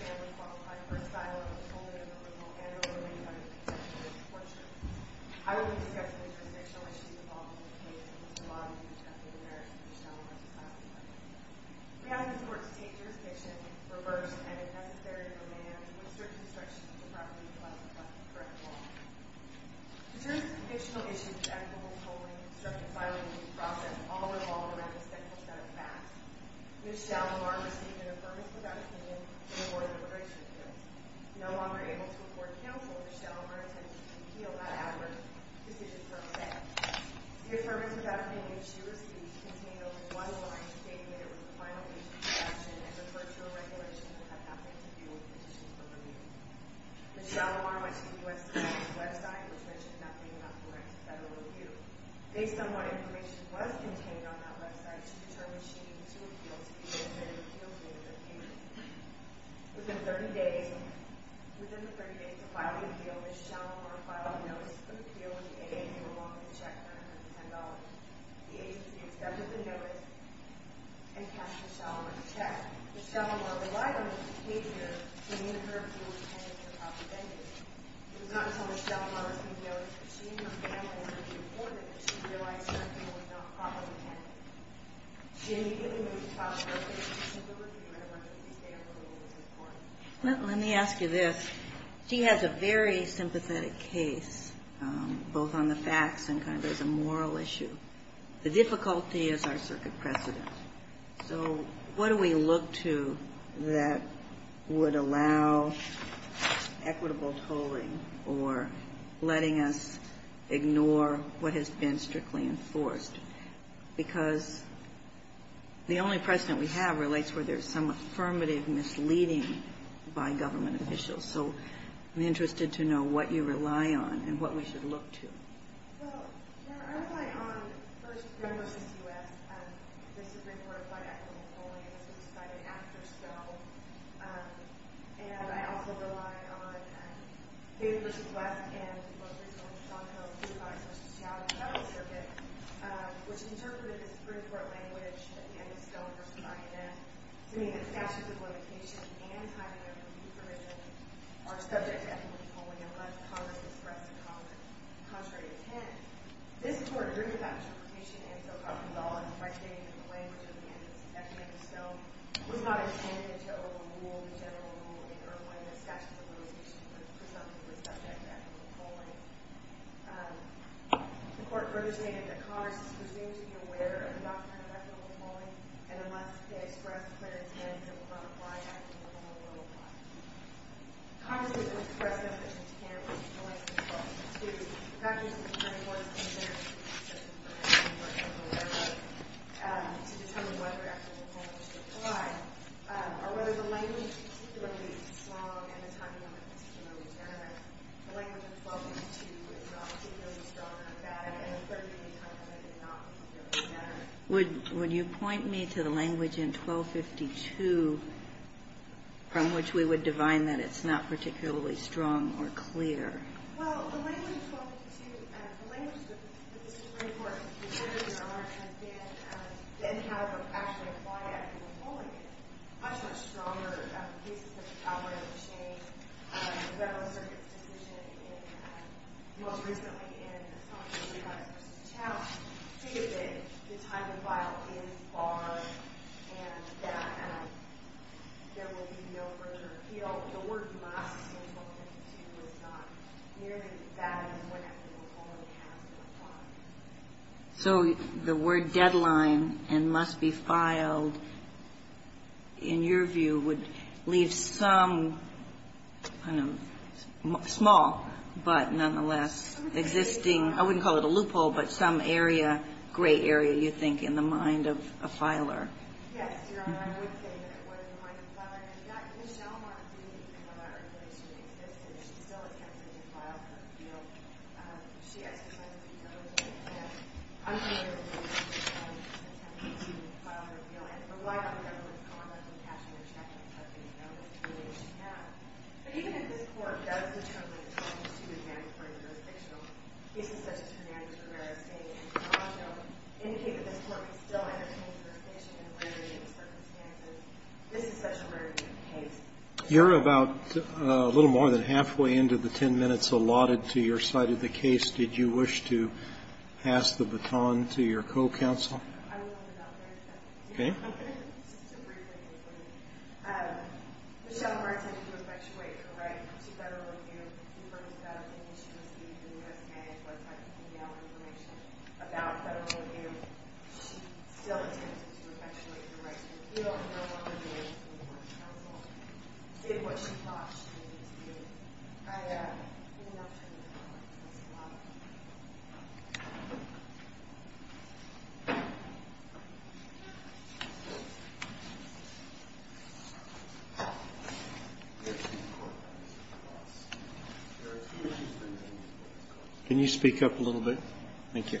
When he was reported to IOWA, the Council was obliged to provide an attorney to make sure that the court represented the petitioner in that court, V. Shalimar, and to release him. This was received by the Supreme Court. There were three issues in this case. First, whether the court had certification of whether the petitioner was guilty. Second, whether the Board of Immigration was aired and family involved in their own regulations issuing a permit to have the petitioner in the case. And third, whether V. Shalimar and his family qualified for asylum as only an original and a women-only petitioner was tortured. I will only discuss the interstitial issues involved in this case, and there is a lot to discuss with the merits of V. Shalimar's asylum claim. We ask the court to take jurisdiction in its reverse and, if necessary, demand that we circumstructions the property plus the correct law. In terms of the convictional issues of equitable tolling, circumcision, and release process, all revolve around the same set of facts. V. Shalimar received an affirmative opinion in the Board of Immigration case. No longer able to afford counsel, V. Shalimar attempted to repeal that adverse decision for a second. The affirmative opinion she received contained only one line stating that it was a final agency action and referred to a regulation that had nothing to do with the petition for release. V. Shalimar went to the U.S. Department's website, which mentioned nothing about the correct federal review. Based on what information was contained on that website, she determined she needed to appeal to be admitted to the appeals unit of the agency. Within 30 days of filing an appeal, V. Shalimar filed a notice of appeal in a mail-in check for $110. The agency accepted the notice and cast V. Shalimar to check. V. Shalimar relied on this occasion to meet her full intent of her proper vendetta. It was not until V. Shalimar received notice that she and her family had reached an agreement that she realized something was not properly handled. She immediately moved to filed a request for a simple review and emergency stay approval in this court. Let me ask you this. She has a very sympathetic case, both on the facts and kind of as a moral issue. The difficulty is our circuit precedent. So what do we look to that would allow equitable tolling or letting us ignore what has been strictly enforced? Because the only precedent we have relates where there's some affirmative misleading by government officials. So I'm interested to know what you rely on and what we should look to. Well, I rely on, first, Green v. U.S. This is Green Court by equitable tolling, and this was decided after Stone. And I also rely on Davis v. West and both Green Court and Stone, held by the Associated Federal Circuit, which interpreted this Green Court language at the end of Stone v. INS to mean that factions of limitation and having equity provision are subject to equitable tolling, unless Congress expressed a contrary intent. This Court agreed to that interpretation, and so, by stating in the language at the end of this section of the Stone, was not intended to overrule the general rule in Irwin that statutes of limitations were presumptively subject to equitable tolling. The Court further stated that Congress is presumed to be aware of the doctrine of equitable tolling, and unless they expressed a clear intent, it would not apply to equitable tolling. Congress was going to express an intent to tolling in 1252. The fact is that the Supreme Court's intent is to be consistent with what the Supreme Court is aware of, to determine whether equitable tolling should apply, or whether the language, particularly in Stone and the timing of the decision on deterrent, the language in 1252 would not be really strong or bad, and it would certainly be a time when it did not particularly matter. Would you point me to the language in 1252 from which we would divine that it's not particularly strong or clear? Well, the language in 1252, the language that the Supreme Court, the Supreme Court in their own right, has been, and has actually applied equitable tolling, is much, much stronger. In cases such as Albright v. Shane, the Federal Circuit's decision in, most recently, in Assange v. Weiss v. Chown, stated that the time of vial is barred, and that there will be no further appeal. So the word deadline and must be filed, in your view, would leave some, I don't know, small, but nonetheless existing, I wouldn't call it a loophole, but some area, gray area, you think, in the mind of a filer. Yes, Your Honor, I would say that it was in the mind of a filer. In fact, Michele Montague, even though that articulation existed, she still attempted to file for appeal. She exercised vetoes against that. I'm familiar with the case where she attempted to file for appeal and relied on the government's comments and passionate acceptance of the notice to do what she had. But even if this Court does determine that 1252 is mandatory jurisdictional, cases such as Hernandez, Rivera, and Chown indicate that this Court can still entertain jurisdiction in a variety of circumstances. This is such a very different case. You're about a little more than halfway into the 10 minutes allotted to your side of the case. Did you wish to pass the baton to your co-counsel? I will hand it over to counsel. Okay. Just a brief thing for me. Michele Montague, who effectuated her right to federal review, even though she was in the U.S. Senate, but I can give you our information about federal review, she still attempted to effectuate her right to appeal. I don't know whether the U.S. Supreme Court or counsel did what she thought she needed to do. I am not sure that I want to pass the baton. The Supreme Court, Mr. DeVos. There are two issues that remain before this Court. Can you speak up a little bit? Thank you. Thank you, Your Honor. Mr. DeVos. Thank you, Your Honor. I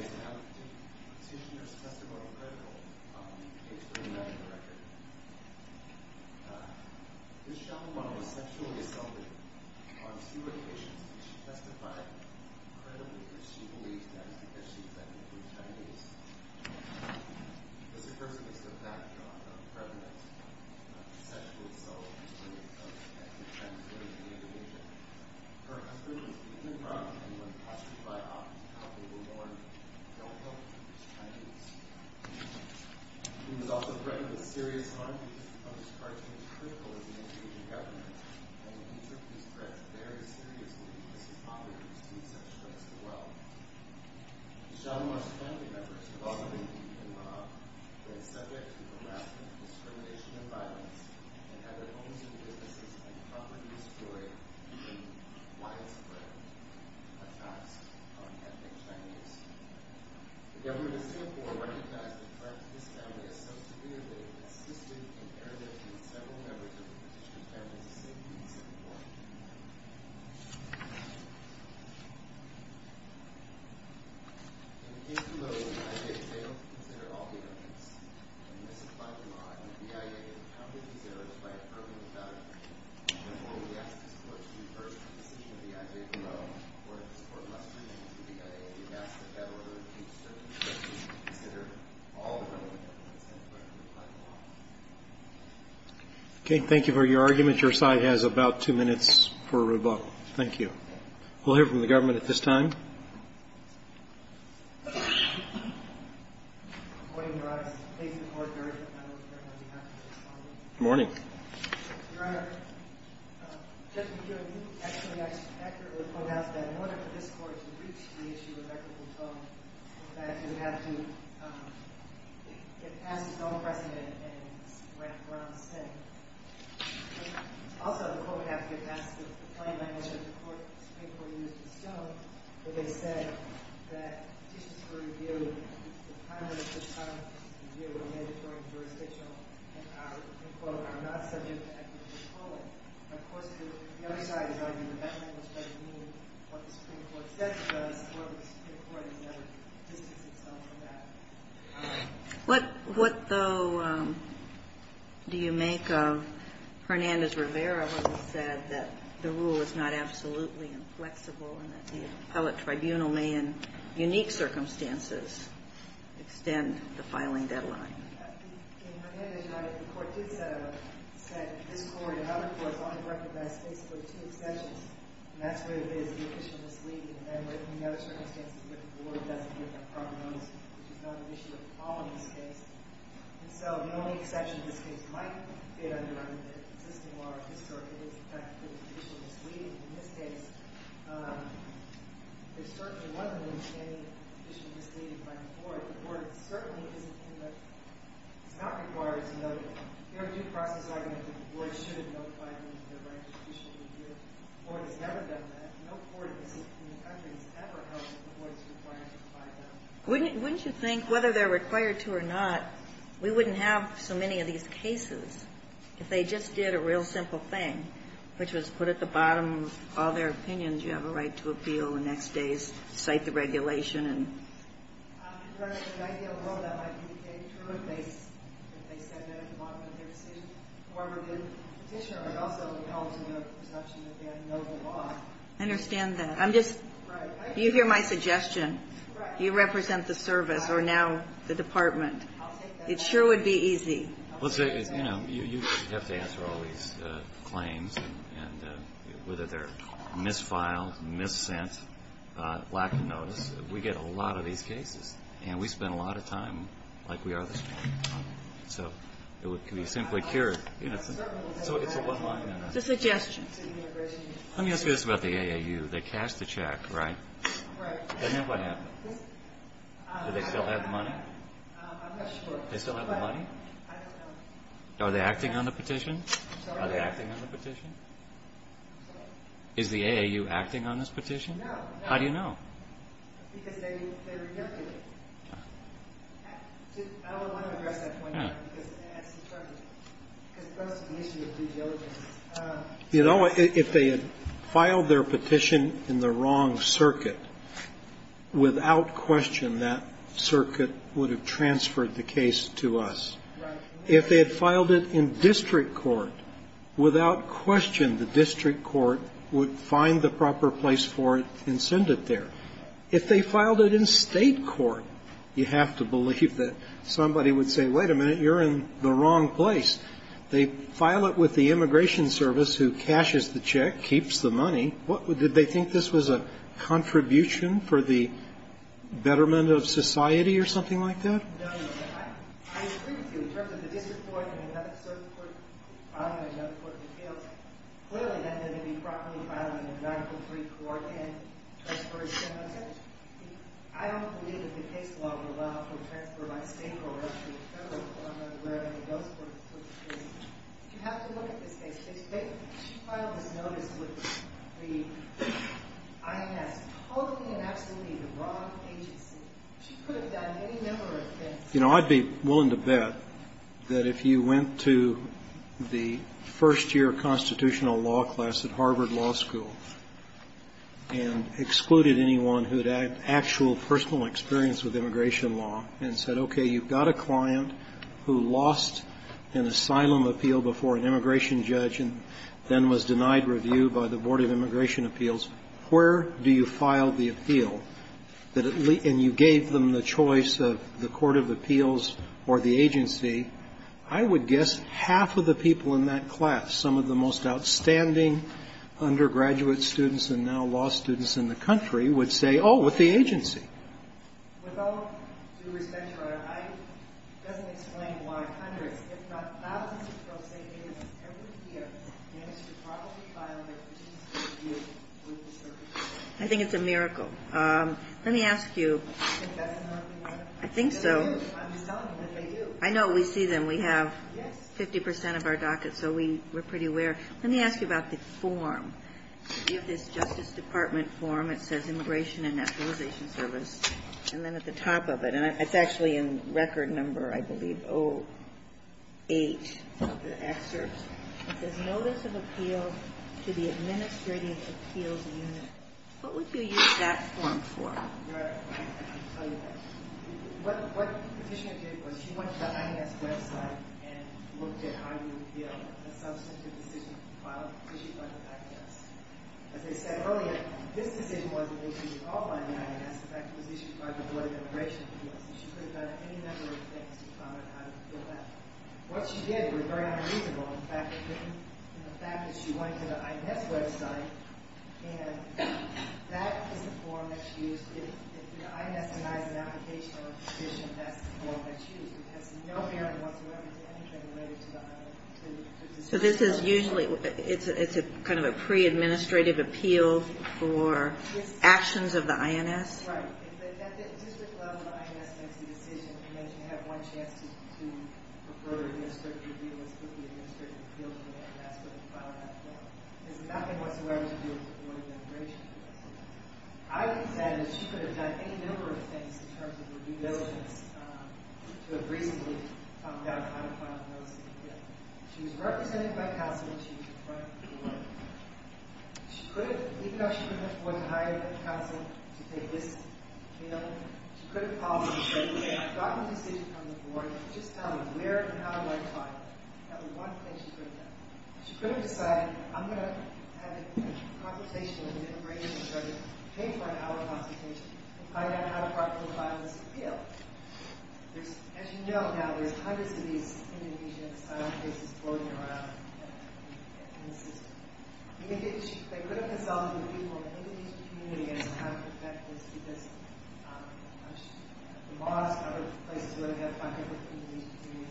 just have a petitioner's testimony critical in the case for the American record. Ms. Xiaomeng was sexually assaulted on two occasions, and she testified credibly that she believes that is because she is a native of the Chinese. This occurs against the backdrop of the President's sexually assaulted experience of the Chinese women in Indonesia. Her husband was beaten and robbed, and when questioned by officers how they were born, they all told him he was Chinese. He was also threatened with serious harm because of his cartoons critical of the Indonesian government, and he took this threat very seriously because his mother received such threats as well. Xiaomeng's family members have also been beaten and robbed. They are subject to harassment, discrimination, and violence, and have their homes and businesses and property destroyed in widespread attacks on ethnic Chinese. The government of Singapore recognizes the threat to this family as so severe that it has assisted in airlifting several members of the petitioner's family to safety in Singapore. In the case below, I say that they don't consider all the evidence. And this is by demand. The BIA has accounted for these errors by approving the document. Therefore, we ask the Supreme Court to reverse the decision of the IJBO in order to support less scrutiny of the BIA and to ask the federal government to consider all the relevant evidence. Thank you very much. Okay, thank you for your argument. Your side has about two minutes for rebuttal. Thank you. We'll hear from the government at this time. Good morning, Your Honor. Judge McKeown, you actually accurately point out that in order for this court to reach the issue of equitable phone, that it would have to get past the phone precedent and wrap around the same. Also, the court would have to get past the plan by which the Supreme Court used the stone, where they said that petitions were reviewed. The prime minister's comment was to review the mandatory jurisdictional and, quote, are not subject to equitable calling. And, of course, the other side is arguing that that was what the Supreme Court said to us, and what the Supreme Court has done to distance itself from that. What, though, do you make of Hernandez-Rivera, who said that the rule is not absolutely inflexible and that the appellate tribunal may, in unique circumstances, extend the filing deadline? In Hernandez-Rivera, the court did set this court and other courts only to recognize basically two exceptions, and that's where it is, the official mislead, and then, in the other circumstances, the board doesn't hear the problems, which is not an issue at all in this case. And so the only exception in this case might be under the existing law of this court. It is, in fact, the official mislead. In this case, there certainly wasn't any official mislead by the court. The court certainly isn't in the – is not required to note it. There are due process arguments that the board should have notified them that they're going to issue a review. The board has never done that. No court in the country has ever held that the board is required to notify them. Wouldn't you think, whether they're required to or not, we wouldn't have so many of these cases if they just did a real simple thing, which was put at the bottom of all their opinions, you have a right to appeal the next day's – cite the regulation and – The idea of all that might be true if they said that at the bottom of their decision. However, the Petitioner also held to the perception that they had no law. I understand that. I'm just – Right. You hear my suggestion. You represent the service, or now the department. It sure would be easy. Well, you know, you have to answer all these claims, and whether they're misfiled, missent, lack of notice. We get a lot of these cases, and we spend a lot of time like we are this morning. So it would be simply cured. So it's a one-liner. The suggestions. Let me ask you this about the AAU. They cashed the check, right? Right. Then what happened? Do they still have the money? I'm not sure. Do they still have the money? I don't know. Are they acting on the petition? Are they acting on the petition? I'm sorry? Is the AAU acting on this petition? No. How do you know? Because they rejected it. I don't want to address that point because it adds to the trouble. Because first, the issue of due diligence. You know, if they had filed their petition in the wrong circuit, without question, that circuit would have transferred the case to us. Right. If they had filed it in district court, without question, the district court would find the proper place for it and send it there. If they filed it in State court, you have to believe that somebody would say, wait a minute, you're in the wrong place. They file it with the immigration service, who cashes the check, keeps the money. Did they think this was a contribution for the betterment of society or something like that? No. I agree with you in terms of the district court and another circuit court filing another court in the field. Clearly, then they would be properly filing a 9-3 court and transferring the case. I don't believe that the case law would allow for a transfer by State court to the You have to look at this case. If she filed this notice with the INS, totally and absolutely the wrong agency, she could have done any number of things. You know, I'd be willing to bet that if you went to the first year constitutional law class at Harvard Law School and excluded anyone who had actual personal experience with immigration law and said, okay, you've got a client who lost an asylum appeal before an immigration judge and then was denied review by the Board of Immigration Appeals, where do you file the appeal, and you gave them the choice of the court of appeals or the agency, I would guess half of the people in that class, some of the most outstanding undergraduate students and now law students in the country, would say, oh, with the agency. I think it's a miracle. Let me ask you. I think so. I know we see them. We have 50% of our docket, so we're pretty aware. Let me ask you about the form. You have this Justice Department form. It says Immigration and Nationalization Service, and then at the top of it, and it's actually in record number, I believe, 08 of the excerpts, it says Notice of Appeal to the Administrative Appeals Unit. What would you use that form for? I can tell you that. What the petitioner did was she went to the INS website and looked at how you would appeal a substantive decision filed issued by the FACTS. As I said earlier, this decision wasn't issued at all by the INS. In fact, it was issued by the Board of Immigration Appeals, and she could have done any number of things to find out how to appeal that. What she did was very unreasonable. In fact, she went to the INS website, and that is the form that she used. If the INS denies an application or a petition, that's the form that she used. It has no merit whatsoever to anything related to the INS. So this is usually, it's kind of a pre-administrative appeal for actions of the INS? Right. At the district level, the INS makes the decision. You have one chance to refer the administrative appeal to the FACTS when you file that form. There's nothing whatsoever to do with the Board of Immigration Appeals. I would have said that she could have done any number of things in terms of reviewed evidence to have reasonably found out how to file the notice of appeal. She was represented by counsel, and she was in front of the Board. She could have, even though she wasn't hired by counsel to take this appeal, she could have called and said, okay, I've gotten a decision from the Board. Just tell me where and how do I file it. That was one thing she could have done. She could have decided, I'm going to have a conversation with an immigration judge, pay for an hour consultation, and find out how to file this appeal. As you know now, there's hundreds of these individual cases floating around in the system. They could have consulted with people in the individual community as to how to effect this because of the laws and other places where we have five different individual communities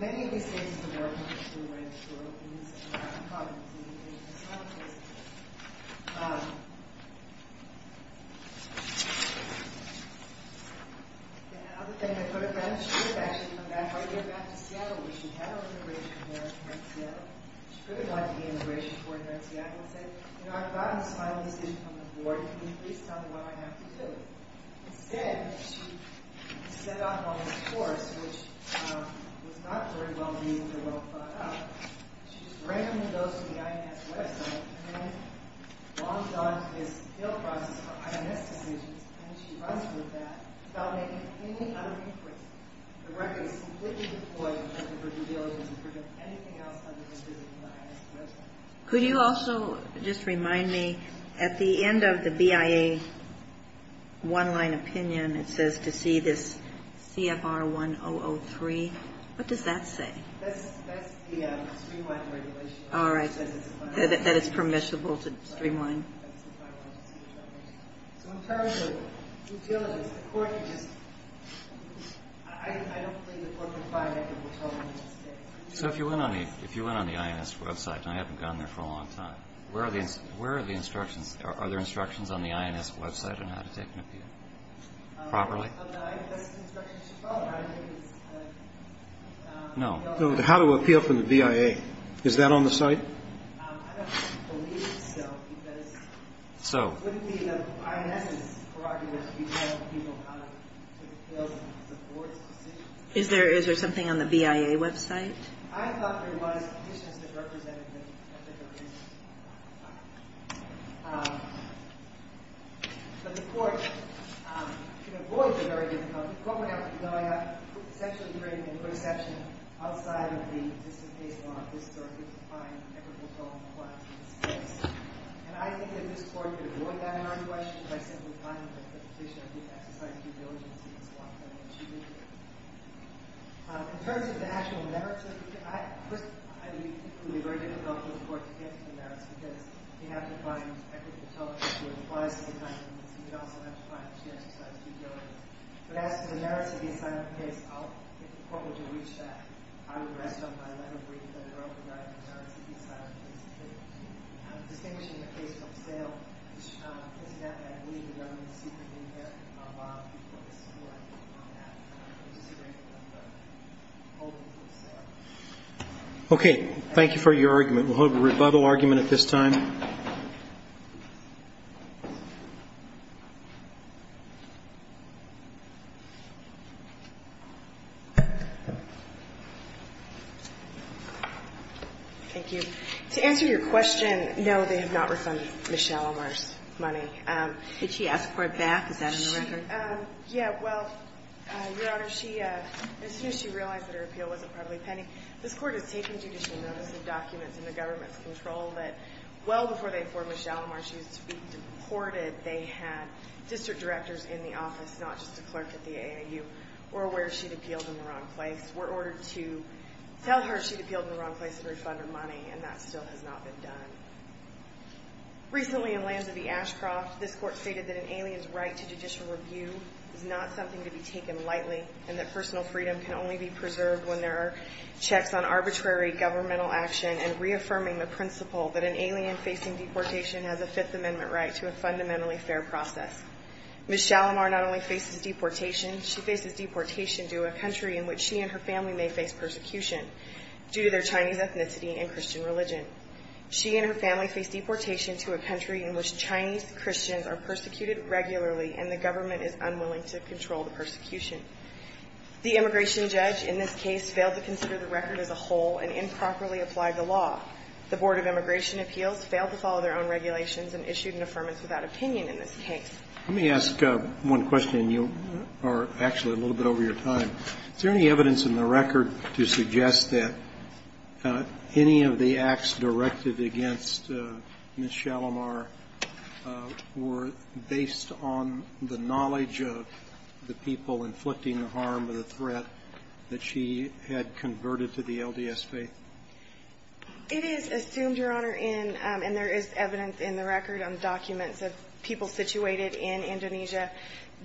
Many of these cases have worked in this American problem. The other thing I could have done, she could have actually come back right here back to Seattle where she had her immigration lawyer in Seattle. She could have gone to the immigration court here in Seattle and said, you know, I've gotten this final decision from the Board. Can you please tell me what I have to do? Instead, she set off on this course, which was not very well viewed or well thought out. She just randomly goes to the IMS website and then longs on to this appeal process for IMS decisions and then she runs with that without making any other inquiries. The record is completely deployed in terms of her due diligence and couldn't have done anything else other than visiting the IMS website. Could you also just remind me, at the end of the BIA one-line opinion, it says to see this CFR 1003. What does that say? That's the streamline regulation. All right. That it's permissible to streamline. So in terms of due diligence, the court could just – I don't believe the court could find it. So if you went on the IMS website, and I haven't gone there for a long time, where are the instructions? Are there instructions on the IMS website on how to take an appeal? Properly? No. How to appeal from the BIA. Is that on the site? So. It wouldn't be the IMS's prerogative to be telling people how to appeal and support a decision? Is there something on the BIA website? I thought there was conditions that represented that there was. But the court could avoid the very difficult – the court would have to essentially create an interception outside of the district case law. And I think that this court could avoid that in our question by simply finding that the petitioner did exercise due diligence in this law. In terms of the actual merits of the case, I think it would be very difficult for the court to get to the merits because you have to find equitable tolerance, which would imply some kind of leniency. You'd also have to find that she exercised due diligence. But as to the merits of the assignment of the case, if the court were to reach that, I would rest on my letter for you to the Director of Insurance to decide on the case. Distinguishing the case from sale, I believe the government is secretly going to get a lot of people to support on that. It's a secret from the holding of the sale. Okay. Thank you for your argument. We'll hold a rebuttal argument at this time. Thank you. To answer your question, no, they have not refunded Ms. Shalimar's money. Could she ask for that? Is that in the record? Yeah. Well, Your Honor, as soon as she realized that her appeal wasn't probably pending, this Court has taken judicial notice of documents in the government's control that well before they formed Ms. Shalimar's use to be deported, they had district directors in the office, not just the clerk at the AAU, who were aware she'd appealed in the wrong place, were ordered to tell her she'd appealed in the wrong place and refund her money, and that still has not been done. Recently in Lanza v. Ashcroft, this Court stated that an alien's right to judicial review is not something to be taken lightly and that personal freedom can only be preserved when there are checks on arbitrary governmental action and reaffirming the principle that an alien facing deportation has a Fifth Amendment right to a fundamentally fair process. Ms. Shalimar not only faces deportation, she faces deportation due to a country in which she and her family may face persecution due to their Chinese ethnicity and Christian religion. She and her family face deportation to a country in which Chinese Christians are persecuted regularly and the government is unwilling to control the persecution. The immigration judge in this case failed to consider the record as a whole and improperly applied the law. The Board of Immigration Appeals failed to follow their own regulations and issued an affirmance without opinion in this case. Let me ask one question. You are actually a little bit over your time. Is there any evidence in the record to suggest that any of the acts directed against Ms. Shalimar were based on the knowledge of the people inflicting harm or the threat that she had converted to the LDS faith? It is assumed, Your Honor, and there is evidence in the record on documents of people situated in Indonesia,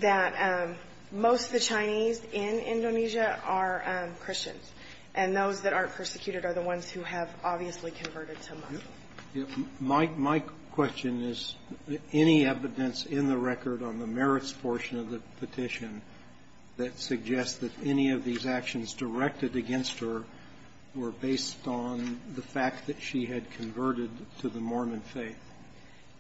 that most of the Chinese in Indonesia are Christians, and those that aren't persecuted are the ones who have obviously converted to Muslim. My question is, any evidence in the record on the merits portion of the petition that suggests that any of these actions directed against her were based on the fact that she had converted to the Mormon faith?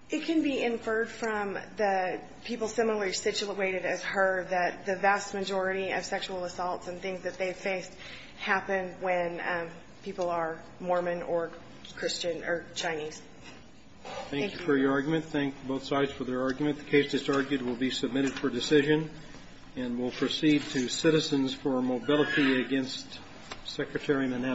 It can be inferred from the people similarly situated as her that the vast majority of sexual assaults and things that they have faced happen when people are Mormon or Christian or Chinese. Thank you. Thank you for your argument. Thank both sides for their argument. The case that's argued will be submitted for decision, and we'll proceed to citizens for a mobility against Secretary Manetta.